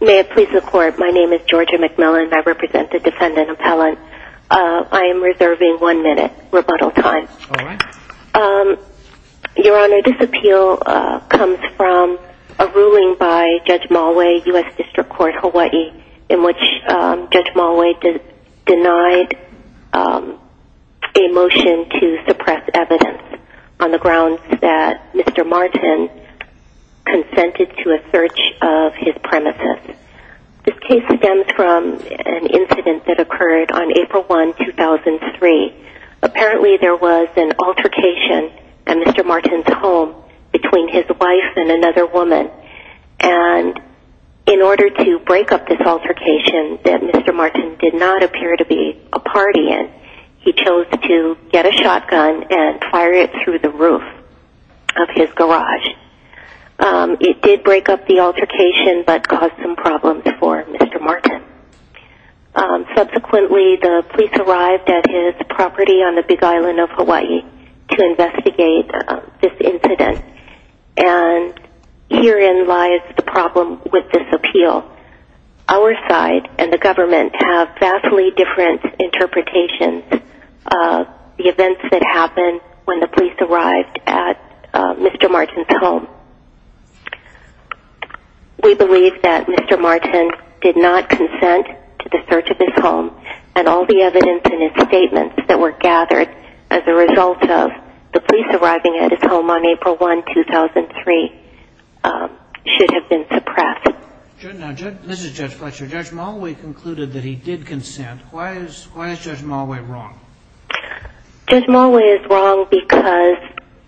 May it please the Court, my name is Georgia McMillan and I represent the defendant appellant. I am reserving one minute rebuttal time. Your Honor, this appeal comes from a ruling by Judge Malway, U.S. District Court, Hawaii, in which Judge Malway denied a motion to suppress evidence on the grounds that Mr. Martin consented to a search of his premises. This case stems from an incident that occurred on April 1, 2003. Apparently there was an altercation at Mr. Martin's home between his wife and another woman, and in order to break up this altercation that Mr. Martin did not appear to be a party in, he chose to get a shotgun and fire it through the roof of his garage. It did break up the altercation but caused some problems for Mr. Martin. Subsequently, the police arrived at his property on the Big Island of Hawaii to investigate this incident, and herein lies the problem with this appeal. Our side and the government have vastly different interpretations of the events that happened when the police arrived at Mr. Martin's home. We believe that Mr. Martin did not consent to the search of his home, and all the evidence in his statements that were gathered as a result of the police arriving at his home on April 1, 2003, should have been suppressed. This is Judge Fletcher. Judge Mollway concluded that he did consent. Why is Judge Mollway wrong? Judge Mollway is wrong because,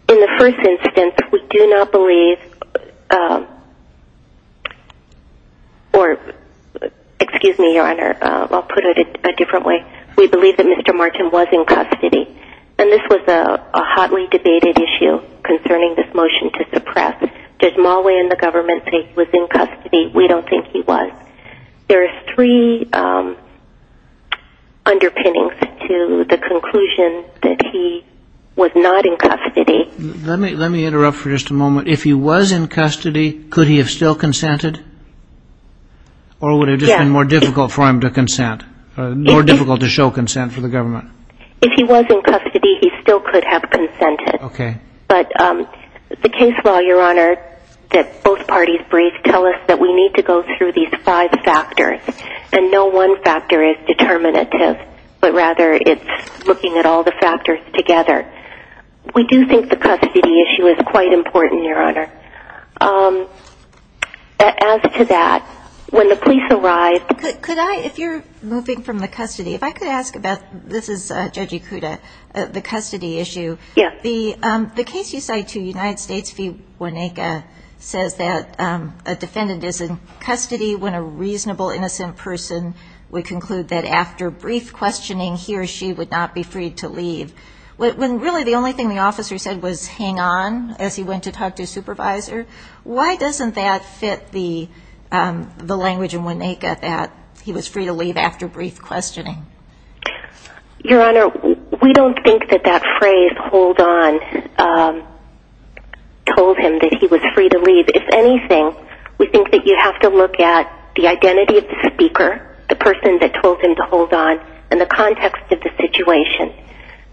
in the first instance, we do not believe, or, excuse me, Your Honor, I'll put it a different way. We believe that Mr. Martin was in custody. And this was a hotly debated issue concerning this motion to suppress. Does Mollway and the government think he was in custody? We don't think he was. There are three underpinnings to the conclusion that he was not in custody. Let me interrupt for just a moment. If he was in custody, could he have still consented? Or would it have just been more difficult for him to consent, more difficult to show consent for the government? If he was in custody, he still could have consented. But the case law, Your Honor, that both parties briefed tell us that we need to go through these five factors. And no one factor is determinative, but rather it's looking at all the factors together. We do think the custody issue is quite important, Your Honor. As to that, when the police arrived – Could I – if you're moving from the custody, if I could ask about – this is Judge Ikuda, the custody issue. Yes. The case you cite to United States v. Woneka says that a defendant is in custody when a reasonable, innocent person would conclude that after brief questioning, he or she would not be freed to leave. When really the only thing the officer said was, hang on, as he went to talk to his supervisor, why doesn't that fit the language in Woneka that he was free to leave after brief questioning? Your Honor, we don't think that that phrase, hold on, told him that he was free to leave. If anything, we think that you have to look at the identity of the speaker, the person that told him to hold on, and the context of the situation.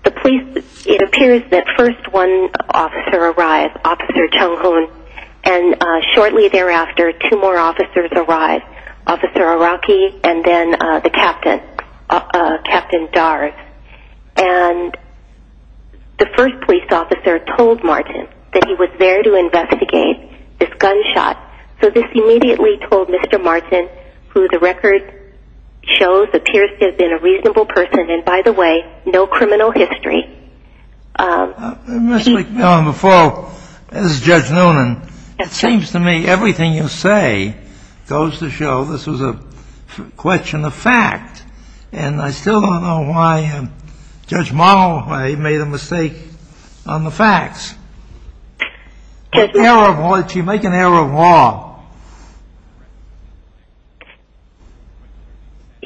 The police – it appears that first one officer arrived, Officer Chung Hoon, and shortly thereafter, two more officers arrived, Officer Araki and then the captain, Captain Dars. And the first police officer told Martin that he was there to investigate this gunshot. So this immediately told Mr. Martin, who the record shows appears to have been a reasonable person, and by the way, no criminal history. Ms. McMillan, before – this is Judge Noonan. It seems to me everything you say goes to show this was a question of fact, and I still don't know why Judge Morrow made a mistake on the facts. She made an error of law.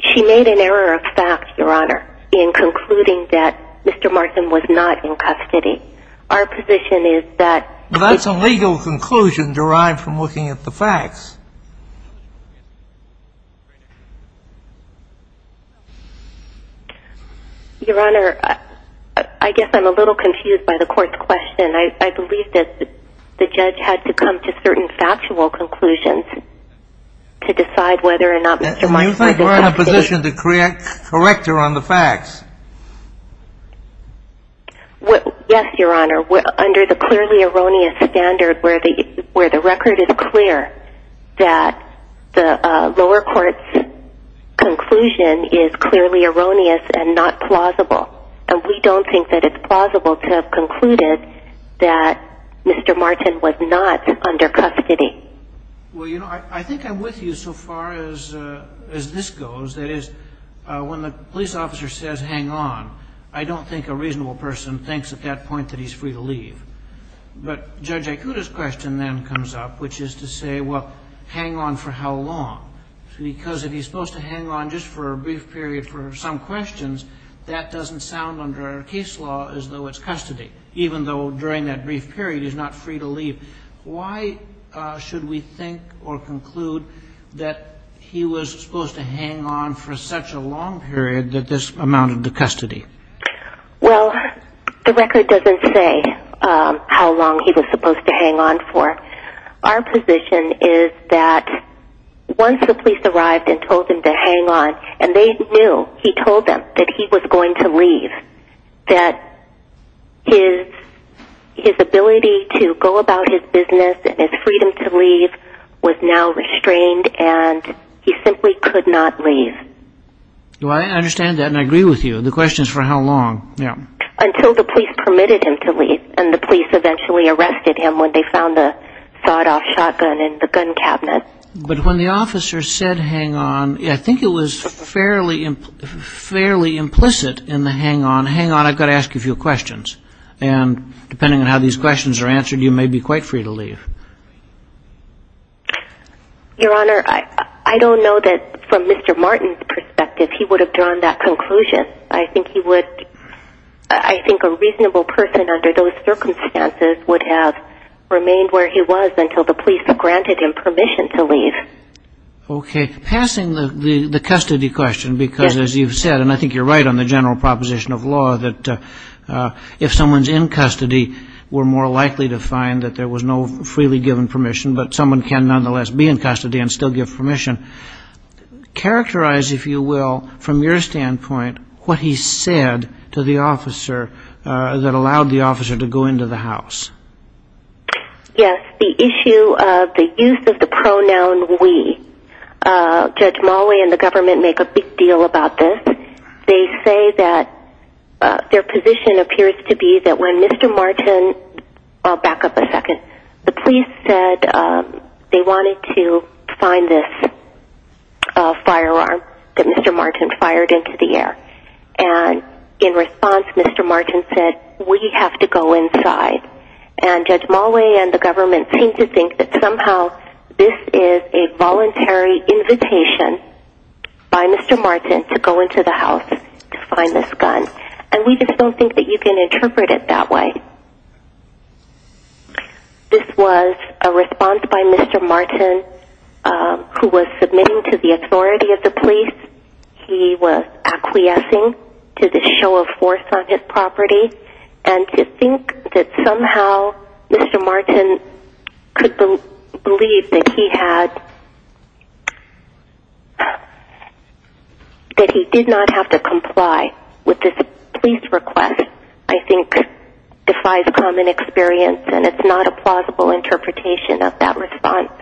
She made an error of fact, Your Honor, in concluding that Mr. Martin was not in custody. Our position is that – That's a legal conclusion derived from looking at the facts. Your Honor, I guess I'm a little confused by the court's question. I believe that the judge had to come to certain factual conclusions to decide whether or not Mr. Martin was in custody. Do you think we're in a position to correct her on the facts? Yes, Your Honor. Under the clearly erroneous standard where the record is clear, that the lower court's conclusion is clearly erroneous and not plausible, and we don't think that it's plausible to have concluded that Mr. Martin was not under custody. Well, you know, I think I'm with you so far as this goes. That is, when the police officer says, hang on, I don't think a reasonable person thinks at that point that he's free to leave. But Judge Ikuta's question then comes up, which is to say, well, hang on for how long? Because if he's supposed to hang on just for a brief period for some questions, that doesn't sound under our case law as though it's custody, even though during that brief period he's not free to leave. Why should we think or conclude that he was supposed to hang on for such a long period that this amounted to custody? Well, the record doesn't say how long he was supposed to hang on for. Our position is that once the police arrived and told him to hang on, and they knew, he told them, that he was going to leave, that his ability to go about his business and his freedom to leave was now restrained, and he simply could not leave. Well, I understand that and I agree with you. The question is for how long. Until the police permitted him to leave, and the police eventually arrested him when they found the sawed-off shotgun in the gun cabinet. But when the officer said hang on, I think it was fairly implicit in the hang on, hang on, I've got to ask you a few questions, and depending on how these questions are answered, you may be quite free to leave. Your Honor, I don't know that from Mr. Martin's perspective he would have drawn that conclusion. I think he would, I think a reasonable person under those circumstances would have remained where he was until the police granted him permission to leave. Okay. Passing the custody question, because as you've said, and I think you're right on the general proposition of law, that if someone's in custody, we're more likely to find that there was no freely given permission, but someone can nonetheless be in custody and still give permission. Characterize, if you will, from your standpoint, what he said to the officer that allowed the officer to go into the house. Yes, the issue of the use of the pronoun we. Judge Mulway and the government make a big deal about this. They say that their position appears to be that when Mr. Martin, I'll back up a second, the police said they wanted to find this firearm that Mr. Martin fired into the air. And in response, Mr. Martin said, we have to go inside. And Judge Mulway and the government seem to think that somehow this is a voluntary invitation by Mr. Martin to go into the house to find this gun. And we just don't think that you can interpret it that way. This was a response by Mr. Martin, who was submitting to the authority of the police. He was acquiescing to the show of force on his property. And to think that somehow Mr. Martin could believe that he had, that he did not have to comply with this police request, I think defies common experience. And it's not a plausible interpretation of that response.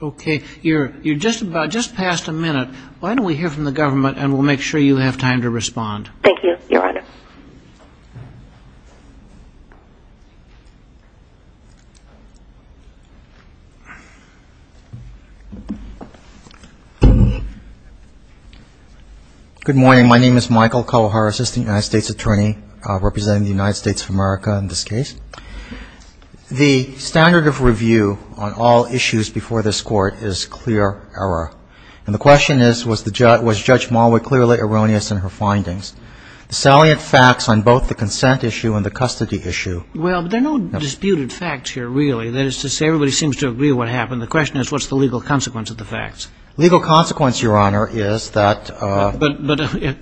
Okay. You're just about just past a minute. Why don't we hear from the government and we'll make sure you have time to respond. Thank you, Your Honor. Good morning. My name is Michael Kawahara, Assistant United States Attorney representing the United States of America in this case. The standard of review on all issues before this Court is clear error. And the question is, was Judge Marwood clearly erroneous in her findings? The salient facts on both the consent issue and the custody issue. Well, there are no disputed facts here, really. That is to say, everybody seems to agree what happened. The question is, what's the legal consequence of the facts? Legal consequence, Your Honor, is that ‑‑ But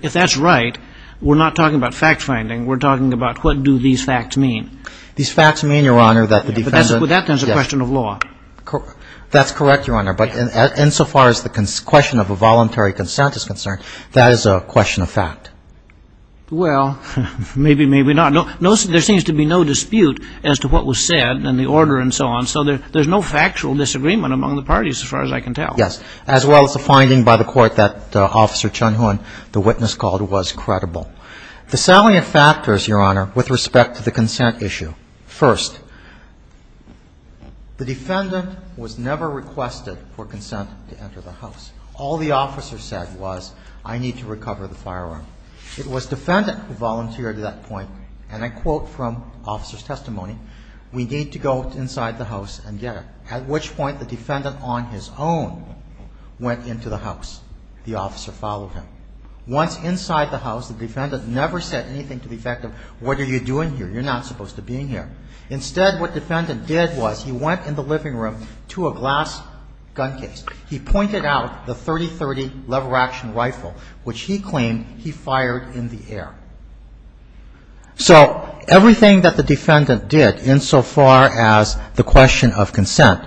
if that's right, we're not talking about fact-finding. We're talking about what do these facts mean? These facts mean, Your Honor, that the defendant ‑‑ But that's a question of law. That's correct, Your Honor. But insofar as the question of a voluntary consent is concerned, that is a question of fact. Well, maybe, maybe not. There seems to be no dispute as to what was said and the order and so on. So there's no factual disagreement among the parties, as far as I can tell. Yes. As well as the finding by the Court that Officer Chun Hoon, the witness called, was credible. The salient factors, Your Honor, with respect to the consent issue. First, the defendant was never requested for consent to enter the house. All the officer said was, I need to recover the firearm. It was defendant who volunteered at that point, and I quote from officer's testimony, we need to go inside the house and get it. At which point, the defendant on his own went into the house. The officer followed him. Once inside the house, the defendant never said anything to the effect of, what are you doing here? You're not supposed to be in here. Instead, what defendant did was he went in the living room to a glass gun case. He pointed out the .30-30 lever action rifle, which he claimed he fired in the air. So everything that the defendant did, insofar as the question of consent,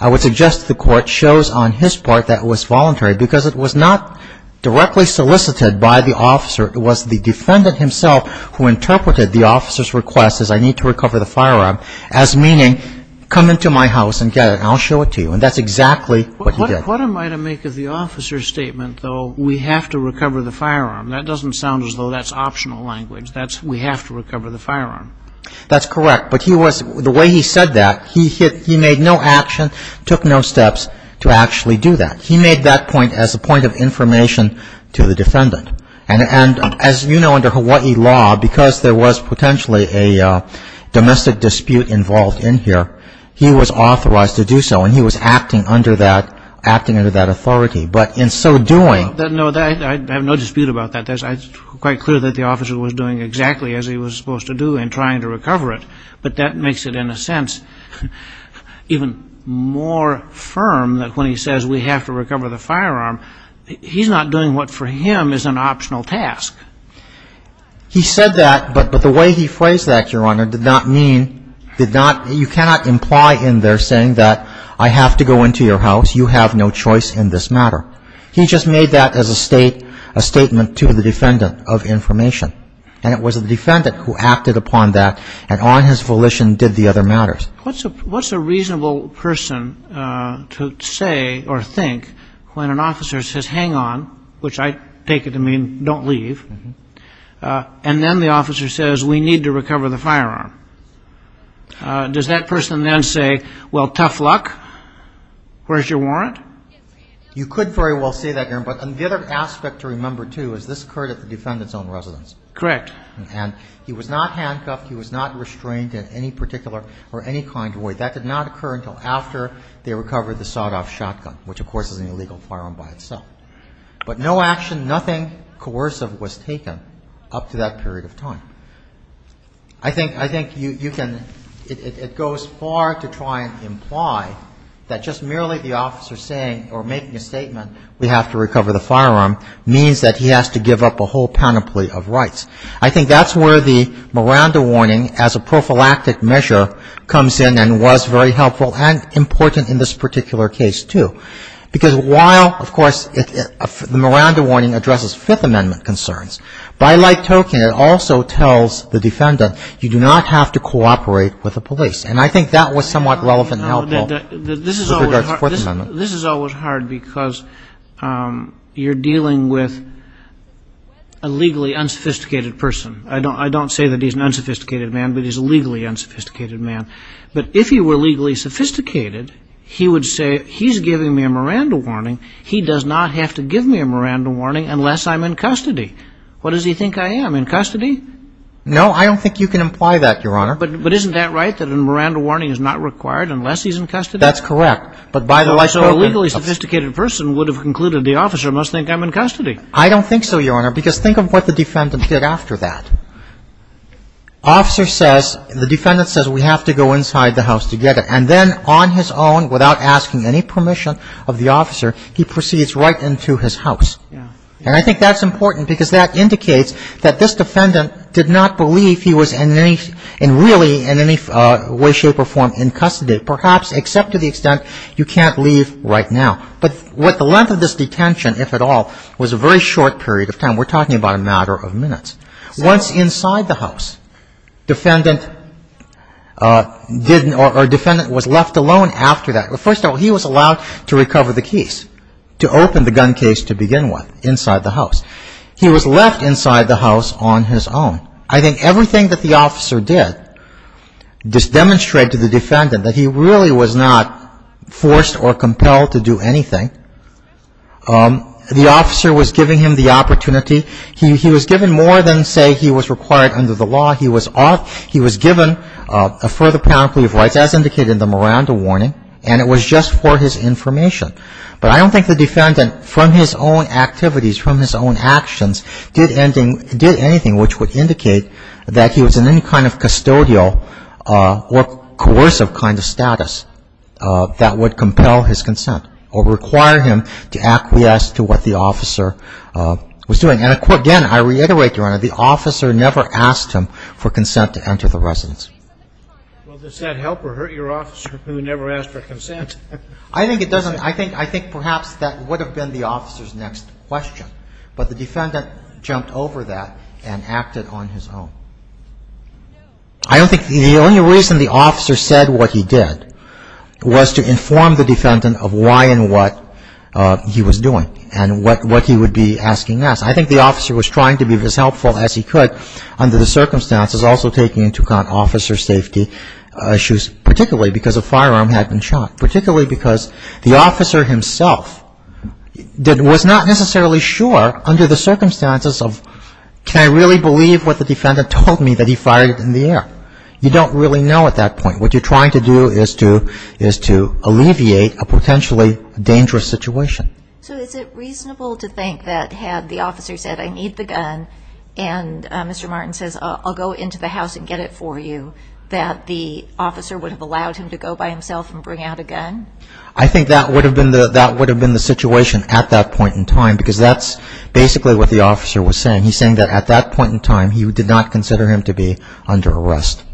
I would suggest the Court shows on his part that it was voluntary, because it was not directly solicited by the officer. It was the defendant himself who interpreted the officer's request, I need to recover the firearm, as meaning, come into my house and get it. I'll show it to you. And that's exactly what he did. What am I to make of the officer's statement, though, we have to recover the firearm? That doesn't sound as though that's optional language. We have to recover the firearm. That's correct. But the way he said that, he made no action, took no steps to actually do that. He made that point as a point of information to the defendant. And, as you know, under Hawaii law, because there was potentially a domestic dispute involved in here, he was authorized to do so, and he was acting under that authority. But in so doing, No, I have no dispute about that. It's quite clear that the officer was doing exactly as he was supposed to do in trying to recover it. But that makes it, in a sense, even more firm that when he says we have to recover the firearm, he's not doing what for him is an optional task. He said that, but the way he phrased that, Your Honor, did not mean, did not, you cannot imply in there saying that I have to go into your house, you have no choice in this matter. He just made that as a statement to the defendant of information. And it was the defendant who acted upon that and on his volition did the other matters. What's a reasonable person to say or think when an officer says hang on, which I take it to mean don't leave, and then the officer says we need to recover the firearm? Does that person then say, well, tough luck, where's your warrant? You could very well say that, Your Honor, but the other aspect to remember, too, is this occurred at the defendant's own residence. Correct. And he was not handcuffed, he was not restrained in any particular or any kind of way. That did not occur until after they recovered the sawed-off shotgun, which, of course, is an illegal firearm by itself. But no action, nothing coercive was taken up to that period of time. I think you can, it goes far to try and imply that just merely the officer saying or making a statement we have to recover the firearm means that he has to give up a whole panoply of rights. I think that's where the Miranda warning as a prophylactic measure comes in and was very helpful and important in this particular case, too. Because while, of course, the Miranda warning addresses Fifth Amendment concerns, by like token it also tells the defendant you do not have to cooperate with the police. And I think that was somewhat relevant and helpful with regard to Fourth Amendment. This is always hard because you're dealing with a legally unsophisticated person. I don't say that he's an unsophisticated man, but he's a legally unsophisticated man. But if he were legally sophisticated, he would say he's giving me a Miranda warning, he does not have to give me a Miranda warning unless I'm in custody. What does he think I am, in custody? No, I don't think you can imply that, Your Honor. But isn't that right, that a Miranda warning is not required unless he's in custody? That's correct. So a legally sophisticated person would have concluded the officer must think I'm in custody. I don't think so, Your Honor, because think of what the defendant did after that. Officer says, the defendant says we have to go inside the house together. And then on his own, without asking any permission of the officer, he proceeds right into his house. And I think that's important because that indicates that this defendant did not believe he was in any, in any way, shape, or form in custody, perhaps except to the extent you can't leave right now. But what the length of this detention, if at all, was a very short period of time. We're talking about a matter of minutes. Once inside the house, defendant was left alone after that. First of all, he was allowed to recover the keys to open the gun case to begin with inside the house. He was left inside the house on his own. I think everything that the officer did demonstrated to the defendant that he really was not forced or compelled to do anything. The officer was giving him the opportunity. He was given more than, say, he was required under the law. He was given a further penalty of rights, as indicated in the Miranda warning, and it was just for his information. But I don't think the defendant, from his own activities, from his own actions, did anything which would indicate that he was in any kind of custodial or coercive kind of status that would compel his consent or require him to acquiesce to what the officer was doing. And again, I reiterate, Your Honor, the officer never asked him for consent to enter the residence. Well, does that help or hurt your officer who never asked for consent? I think it doesn't. I think perhaps that would have been the officer's next question. But the defendant jumped over that and acted on his own. I don't think the only reason the officer said what he did was to inform the defendant of why and what he was doing and what he would be asking us. I think the officer was trying to be as helpful as he could under the circumstances, also taking into account officer safety issues, particularly because a firearm had been shot, particularly because the officer himself was not necessarily sure under the circumstances of, can I really believe what the defendant told me that he fired in the air? You don't really know at that point. What you're trying to do is to alleviate a potentially dangerous situation. So is it reasonable to think that had the officer said I need the gun and Mr. Martin says I'll go into the house and get it for you, that the officer would have allowed him to go by himself and bring out a gun? I think that would have been the situation at that point in time because that's basically what the officer was saying. He's saying that at that point in time he did not consider him to be under arrest.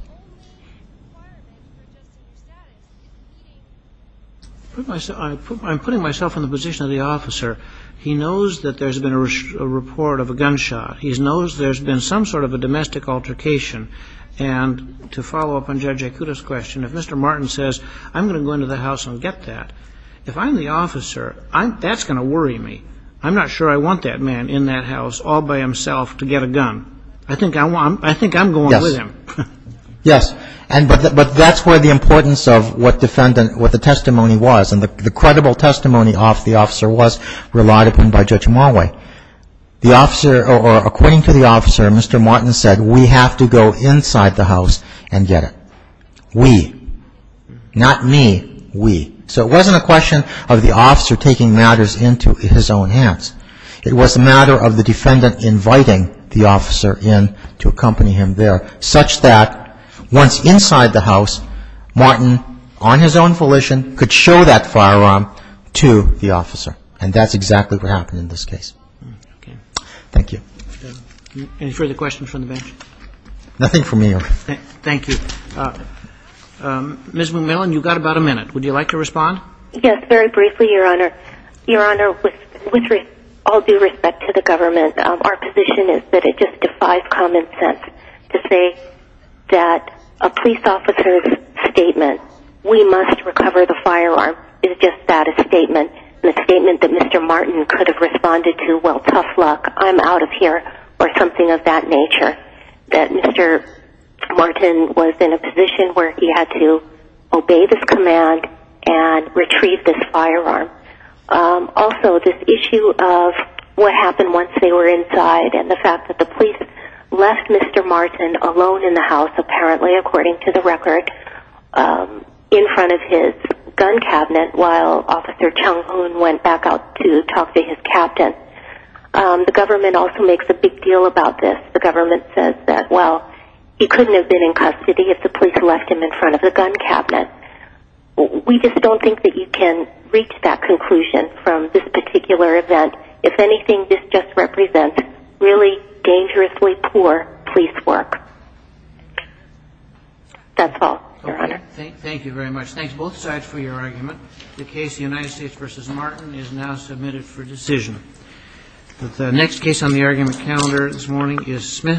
I'm putting myself in the position of the officer. He knows that there's been a report of a gunshot. He knows there's been some sort of a domestic altercation. And to follow up on Judge Yakuta's question, if Mr. Martin says I'm going to go into the house and get that, if I'm the officer, that's going to worry me. I'm not sure I want that man in that house all by himself to get a gun. I think I'm going with him. Yes, but that's where the importance of what the testimony was and the credible testimony of the officer was relied upon by Judge Mulway. According to the officer, Mr. Martin said we have to go inside the house and get it. We, not me, we. So it wasn't a question of the officer taking matters into his own hands. It was a matter of the defendant inviting the officer in to accompany him there. Such that once inside the house, Martin, on his own volition, could show that firearm to the officer. And that's exactly what happened in this case. Thank you. Any further questions from the bench? Nothing from me, Your Honor. Thank you. Ms. McMillan, you've got about a minute. Would you like to respond? Yes, very briefly, Your Honor. Your Honor, with all due respect to the government, our position is that it just defies common sense to say that a police officer's statement, we must recover the firearm, is just that, a statement. The statement that Mr. Martin could have responded to, well, tough luck, I'm out of here, or something of that nature. That Mr. Martin was in a position where he had to obey this command and retrieve this firearm. Also, this issue of what happened once they were inside, and the fact that the police left Mr. Martin alone in the house, apparently, according to the record, in front of his gun cabinet while Officer Chung Hoon went back out to talk to his captain. The government also makes a big deal about this. The government says that, well, he couldn't have been in custody if the police left him in front of the gun cabinet. We just don't think that you can reach that conclusion from this particular event. If anything, this just represents really dangerously poor police work. That's all, Your Honor. Okay. Thank you very much. Thanks, both sides, for your argument. The case, United States v. Martin, is now submitted for decision. The next case on the argument calendar this morning is Smith v. Plummer.